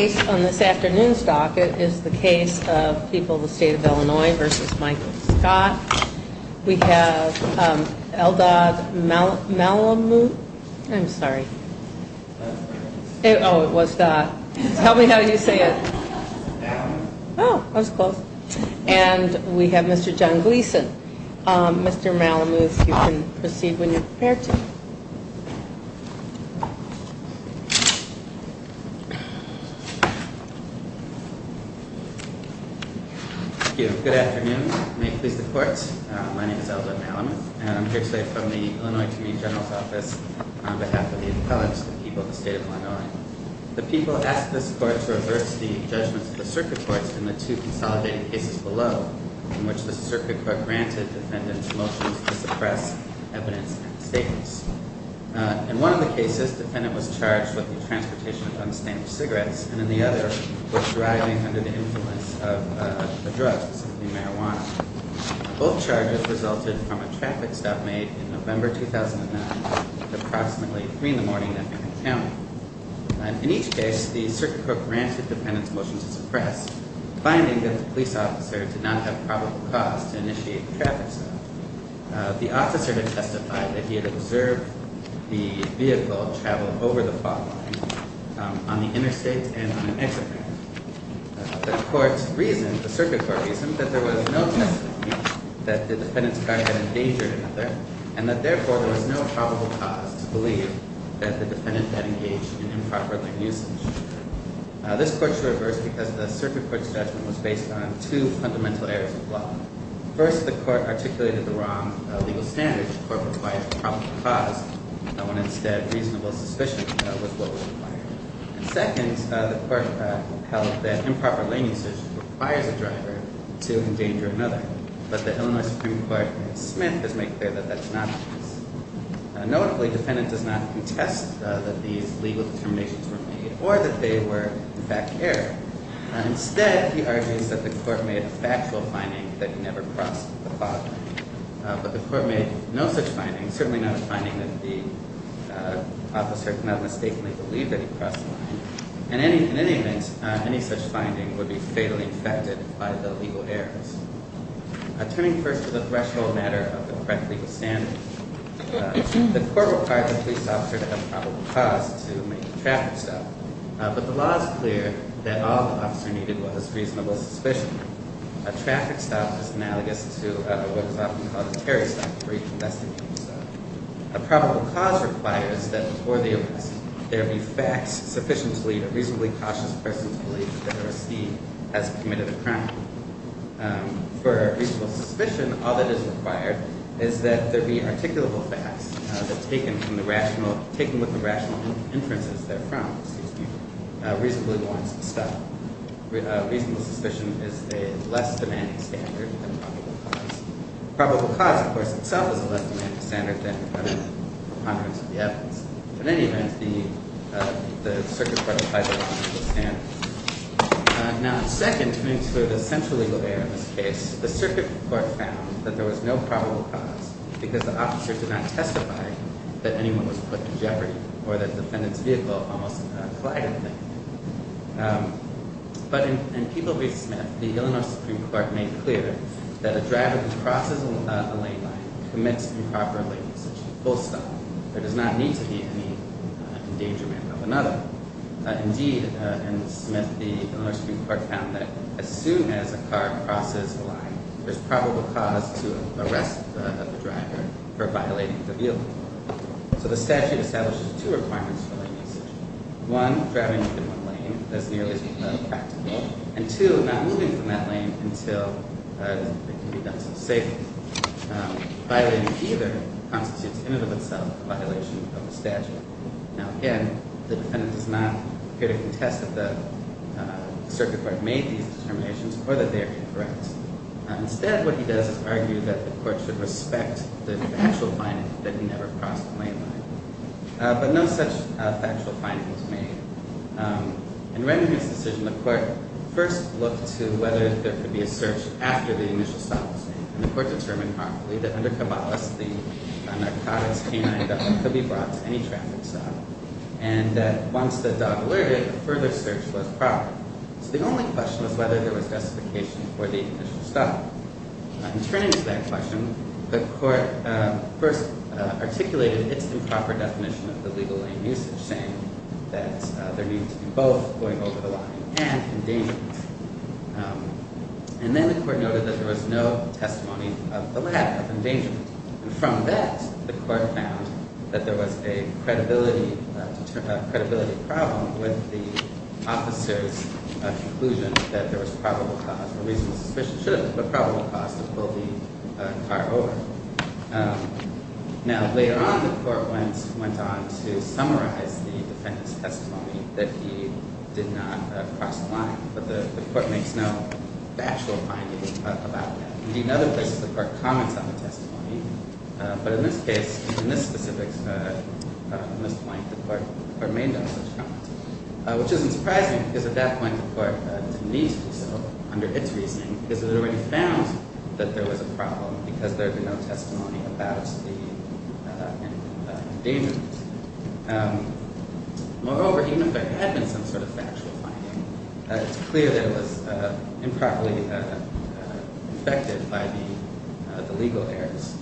on this afternoon's docket is the case of People of the State of Illinois v. Michael Scott. We have Eldad Malamuth, and we have Mr. John Gleeson. Mr. Malamuth, you can proceed when you're prepared to. Thank you. Good afternoon. May it please the court. My name is Eldad Malamuth, and I'm here today from the Illinois Attorney General's Office on behalf of the appellants to the People of the State of Illinois. The people asked this court to reverse the judgments of the circuit courts in the two consolidated cases below, in which the circuit court granted defendants motions to suppress evidence and statements. In one of the cases, the defendant was charged with the transportation of unstamped cigarettes, and in the other, with driving under the influence of a drug, specifically marijuana. Both charges resulted from a traffic stop made in November 2009 at approximately 3 in the morning in Effingham County. In each case, the circuit court granted defendants motions to suppress, finding that the police officer did not have probable cause to initiate the traffic stop. The officer had testified that he had observed the vehicle travel over the fault line on the interstate and on an exit ramp. The circuit court reasoned that there was no testimony that the defendant's car had endangered another, and that therefore there was no probable cause to believe that the defendant had engaged in improperly usage. This court should reverse because the circuit court's judgment was based on two fundamental errors of the law. First, the court articulated the wrong legal standards. The court required a probable cause, when instead reasonable suspicion was what was required. Second, the court held that improper lane usage requires a driver to endanger another, but the Illinois Supreme Court in Smith has made clear that that's not the case. Notably, the defendant does not contest that these legal determinations were made or that they were, in fact, error. Instead, he argues that the court made a factual finding that he never crossed the fault line. But the court made no such finding, certainly not a finding that the officer did not mistakenly believe that he crossed the line. And in any event, any such finding would be fatally affected by the legal errors. Turning first to the threshold matter of the correct legal standards, the court required a police officer to have a probable cause to make a traffic stop. But the law is clear that all the officer needed was reasonable suspicion. A traffic stop is analogous to what is often called a tarry stop for reconvestigating stuff. A probable cause requires that before the arrest, there be facts sufficient to lead a reasonably cautious person to believe that he or she has committed a crime. For reasonable suspicion, all that is required is that there be articulable facts that, taken with the rational inferences they're from, reasonably warrant a stop. Reasonable suspicion is a less demanding standard than probable cause. Probable cause, of course, itself is a less demanding standard than the ponderance of the evidence. In any event, the circuit court applied those logical standards. Now, second to the central legal error in this case, the circuit court found that there was no probable cause because the officers did not testify that anyone was put to jeopardy or that the defendant's vehicle almost collided with them. But in People v. Smith, the Illinois Supreme Court made clear that a driver who crosses a lane line commits improper lane usage, full stop. There does not need to be any endangerment of another. Indeed, in Smith, the Illinois Supreme Court found that as soon as a car crosses a line, there's probable cause to arrest the driver for violating the vehicle. So the statute establishes two requirements for lane usage. One, driving within one lane is nearly practical. And two, not moving from that lane until it can be done so safely. Violating either constitutes in and of itself a violation of the statute. Now, again, the defendant does not appear to contest that the circuit court made these determinations or that they are incorrect. Instead, what he does is argue that the court should respect the factual finding that he never crossed a lane line. But no such factual finding was made. In Remington's decision, the court first looked to whether there could be a search after the initial stop was made. And the court determined, harmfully, that under Caballas, the narcotics canine dog could be brought to any traffic stop. And that once the dog alerted, a further search was proper. So the only question was whether there was justification for the initial stop. In turning to that question, the court first articulated its improper definition of the legal lane usage, saying that there needed to be both going over the line and endangerment. And then the court noted that there was no testimony of the lack of endangerment. And from that, the court found that there was a credibility problem with the officer's conclusion that there was probable cause or reasonable suspicion, should have been, but probable cause to pull the car over. Now, later on, the court went on to summarize the defendant's testimony that he did not cross the line. But the court makes no factual finding about that. Indeed, there are other places the court comments on the testimony. But in this case, in this specific point, the court made no such comment. Which isn't surprising, because at that point the court, to me at least, under its reasoning, has already found that there was a problem because there had been no testimony about the endangerment. Moreover, even if there was no testimony, the legal errors,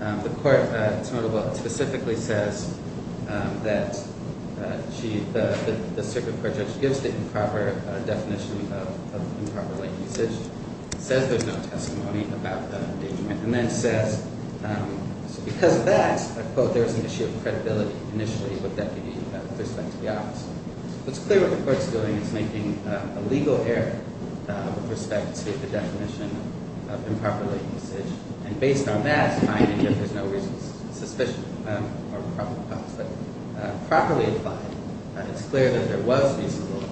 the court, it's notable, specifically says that the circuit court judge gives the improper definition of improper lane usage, says there's no testimony about the endangerment, and then says, because of that, I quote, there was an issue of credibility initially with that giving respect to the officer. It's clear what the court's doing is making a legal error with respect to the definition of improper lane usage. And based on that finding, if there's no reasonable suspicion or probable cause, but properly applied, it's clear that there was reasonable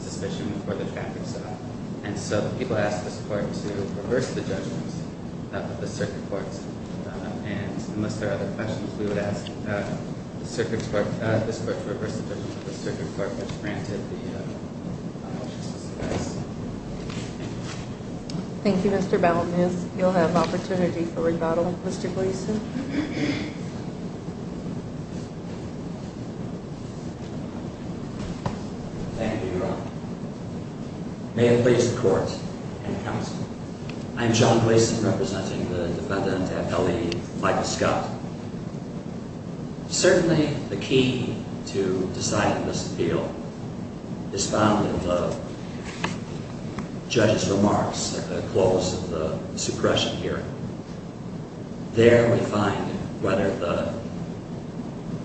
suspicion before the traffic stop. And so the people asked this court to reverse the judgments of the circuit courts. And unless there are other questions, we would ask the circuit court, this court, to reverse the judgment of the circuit court that granted the motion to suppress. Thank you, Mr. Balmes. You'll have an opportunity for rebuttal. Mr. Gleason. Thank you, Your Honor. May it please the Court and Counsel. I'm John Gleason, representing the defendant, L.E. Michael Scott. Certainly, the key to deciding this appeal is found in the judge's remarks at the close of the suppression hearing. There, we find whether the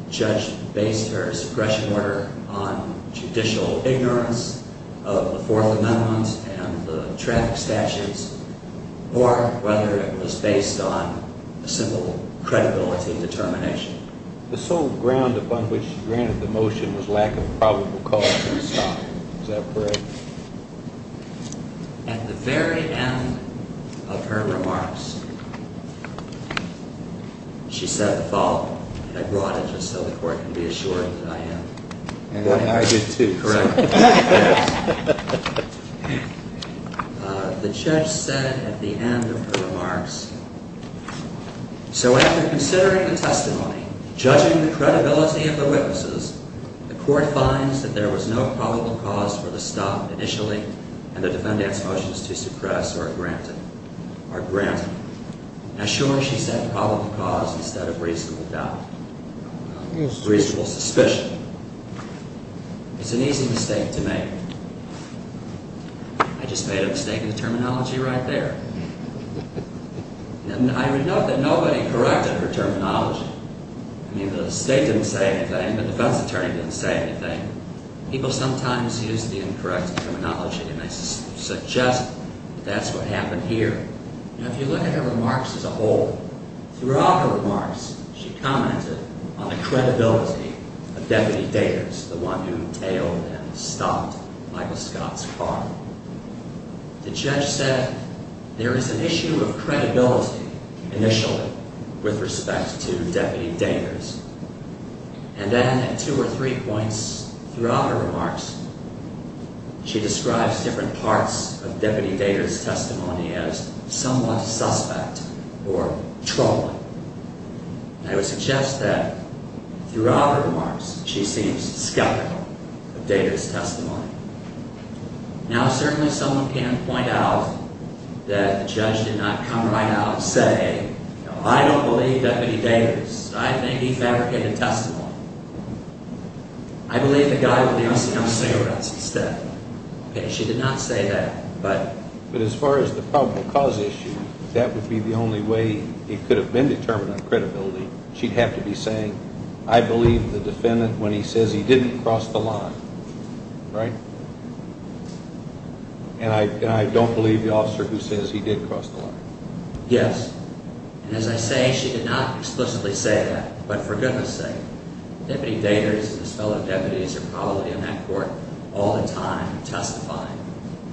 judge based her suppression order on judicial ignorance of the Fourth Amendment and the traffic statutes, or whether it was based on a simple credibility determination. The sole ground upon which she granted the motion was lack of probable cause for the stop. Is that correct? At the very end of her remarks, she said the following, and I brought it just so the Court can be sure, she said at the end of her remarks, so after considering the testimony, judging the credibility of the witnesses, the Court finds that there was no probable cause for the stop initially, and the defendant's motions to suppress are granted. Now, sure, she said probable cause instead of reasonable doubt, reasonable suspicion. It's an easy mistake to make. I just made a mistake in the terminology right there. And I note that nobody corrected her terminology. I mean, the State didn't say anything, the defense attorney didn't say anything. People sometimes use the incorrect terminology, and they suggest that that's what happened here. Now, if you look at her remarks as a whole, throughout her remarks, she commented on the credibility of Deputy Daters, the one who tailed and stopped Michael Scott's car. The judge said there is an issue of credibility initially with respect to Deputy Daters, and then at two or three points throughout her remarks, she describes different parts of Deputy Daters' testimony as somewhat suspect or troubling. And I would suggest that throughout her remarks, she seems skeptical of Daters' testimony. Now, certainly someone can point out that the judge did not come right out and say, you know, I don't believe Deputy Daters. I think he fabricated testimony. I believe the guy with the O.C.M. cigarettes said that. She did not say that. But as far as the probable cause issue, that would be the only way it could have been determined on credibility. She'd have to be saying, I believe the defendant when he says he didn't cross the line. Right? And I don't believe the officer who says he did cross the line. Yes. And as I say, she did not explicitly say that. But for goodness sake, Deputy Daters and his fellow deputies are probably on that court all the time testifying.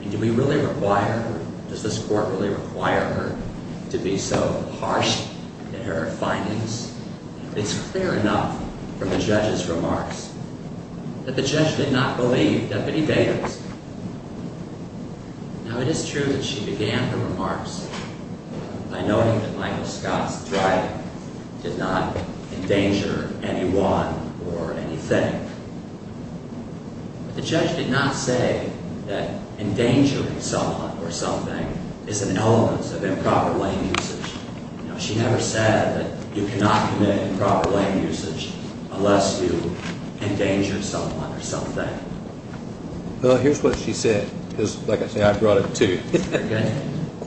And do we really require her? Does this court really require her to be so harsh in her findings? It's clear enough from the judge's remarks that the judge did not believe Deputy Daters. Now, it is true that she began her remarks by noting that Michael Scott's driving did not endanger anyone or anything. The judge did not say that endangering someone or something is an element of improper lane usage. She never said that you cannot commit improper lane usage unless you endanger someone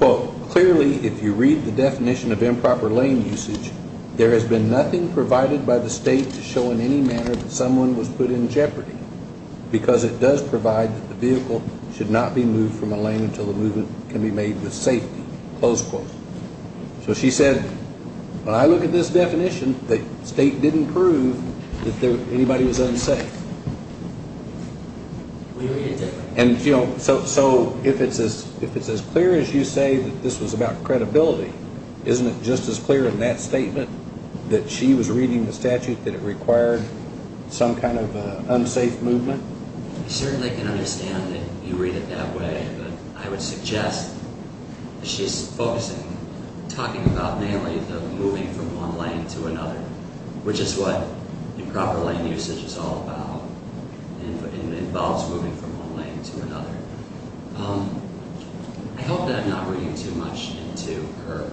or Clearly, if you read the definition of improper lane usage, there has been nothing provided by the state to show in any manner that someone was put in jeopardy because it does provide that the vehicle should not be moved from a lane until the movement can be made with safety. Close quote. So she said, when I look at this definition, the state didn't prove that anybody was unsafe. We read it differently. So if it's as clear as you say that this was about credibility, isn't it just as clear in that statement that she was reading the statute that it required some kind of unsafe movement? I certainly can understand that you read it that way, but I would suggest that she's focusing, talking about mainly the moving from one lane to another, which is what improper lane usage is all about and involves moving from one lane to another. I hope that I'm not reading too much into her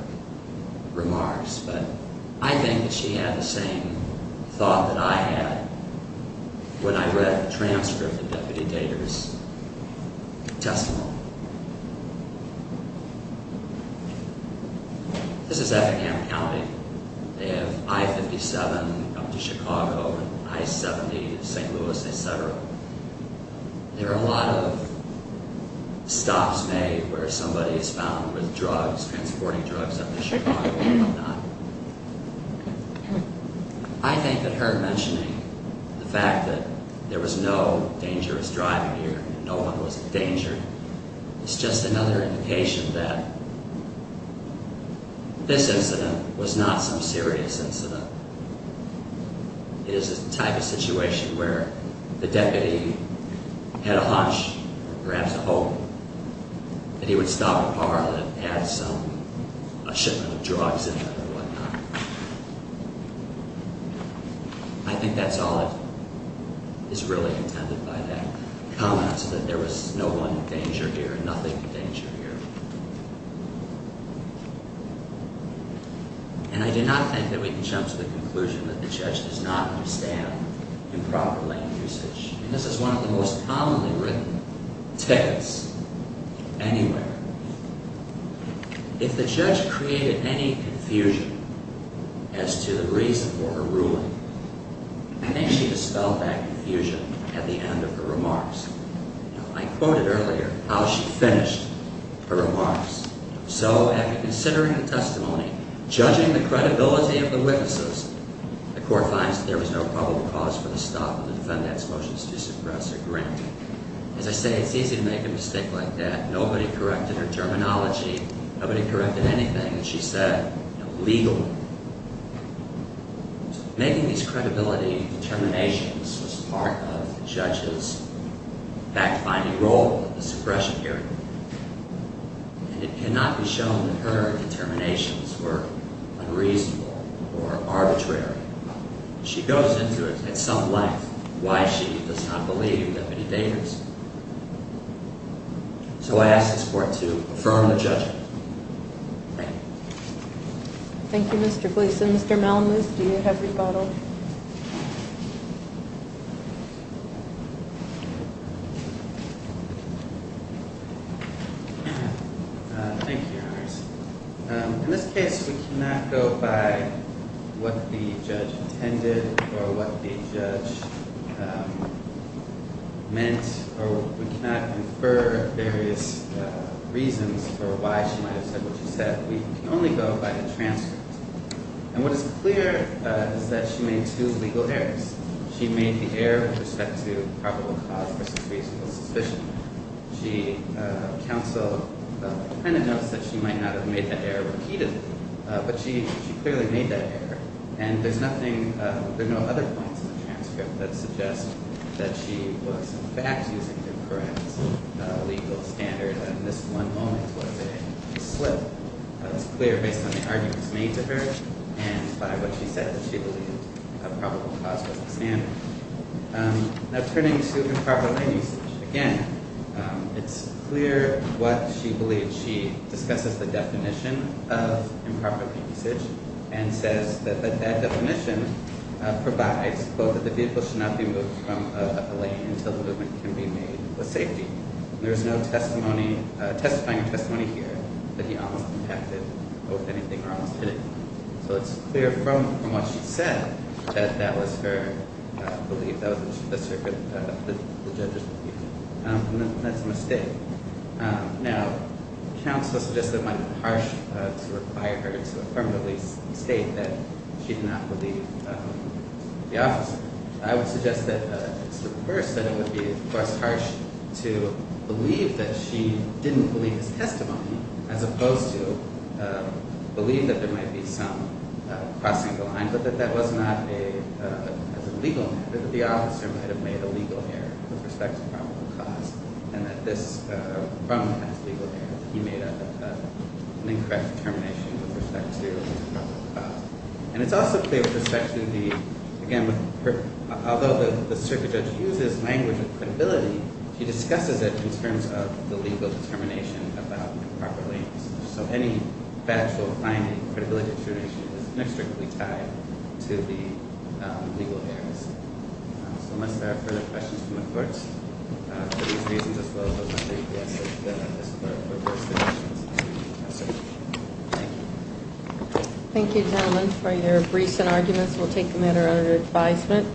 remarks, but I think that she had the same thought that I had when I read the transcript of the Deputy Dater's testimony. This is Effingham County. They have I-57 up to Chicago and I-70 to St. Louis, etc. There are a lot of stops made where somebody is found with drugs, transporting drugs up to Chicago and whatnot. I think that her mentioning the fact that there was no dangerous driving here, no one was in danger, is just another indication that this incident was not some serious incident. It is the type of situation where the deputy had a hunch, perhaps a hope, that he would stop a car that had some shipment of drugs in it or whatnot. I think that's all that is really intended by that comment, that there was no one danger here, nothing danger here. And I do not think that we can jump to the conclusion that the judge does not understand improper lane usage. This is one of the most commonly written texts anywhere. If the judge created any confusion as to the reason for her ruling, I think she dispelled that confusion at the end of her remarks. I quoted earlier how she finished her remarks. So, after considering the testimony, judging the credibility of the witnesses, the Court finds that there was no probable cause for the stop of the defendant's motions to suppress or grant. As I say, it's easy to make a mistake like that. Nobody corrected her terminology. Nobody corrected anything that she said legally. Making these credibility determinations was part of the judge's fact-finding role in the suppression hearing. And it cannot be shown that her determinations were unreasonable or arbitrary. She goes into it at some length why she does not believe Deputy Davis. So I ask this Court to affirm the judgment. Thank you. Thank you, Mr. Gleason. Mr. Malamud, do you have rebuttal? Thank you, Your Honor. In this case, we cannot go by what the judge intended or what the judge meant or we cannot infer various reasons for why she might have said what she said. We can only go by the transcript. And what is clear is that she made two legal errors. She made the error with respect to probable cause versus reasonable suspicion. The counsel kind of notes that she might not have made that error repeatedly, but she clearly made that error. And there are no other points in the transcript that suggest that she was perhaps using him for a legal standard. And this one moment was a slip. But it's clear based on the arguments made to her and by what she said that she believed probable cause was a standard. Now, turning to improper lane usage, again, it's clear what she believes. She discusses the definition of improper lane usage and says that that definition provides both that the vehicle should not be moved from a lane until the movement can be made with safety. There is no testimony, testifying testimony here that he almost impacted both anything or almost anything. So it's clear from what she said that that was her belief. That was the circuit that the judges believed. And that's a mistake. Now, counsel suggested it might be harsh to require her to affirmatively state that she did not believe the officer. I would suggest that it's the reverse, that it would be, of course, harsh to believe that she didn't believe his testimony as opposed to believe that there might be some crossing the line, but that that was not a legal error, that the officer might have made a legal error with respect to probable cause, and that this problem has legal error. He made an incorrect determination with respect to probable cause. And it's also clear with respect to the, again, although the circuit judge uses language of credibility, she discusses it in terms of the legal determination about improper lane usage. So any factual finding, credibility determination is strictly tied to the legal errors. So unless there are further questions from the courts for these reasons as well, I would like to suggest that this is our court's decision. Thank you. Thank you, gentlemen, for your briefs and arguments. We'll take a matter under advisement.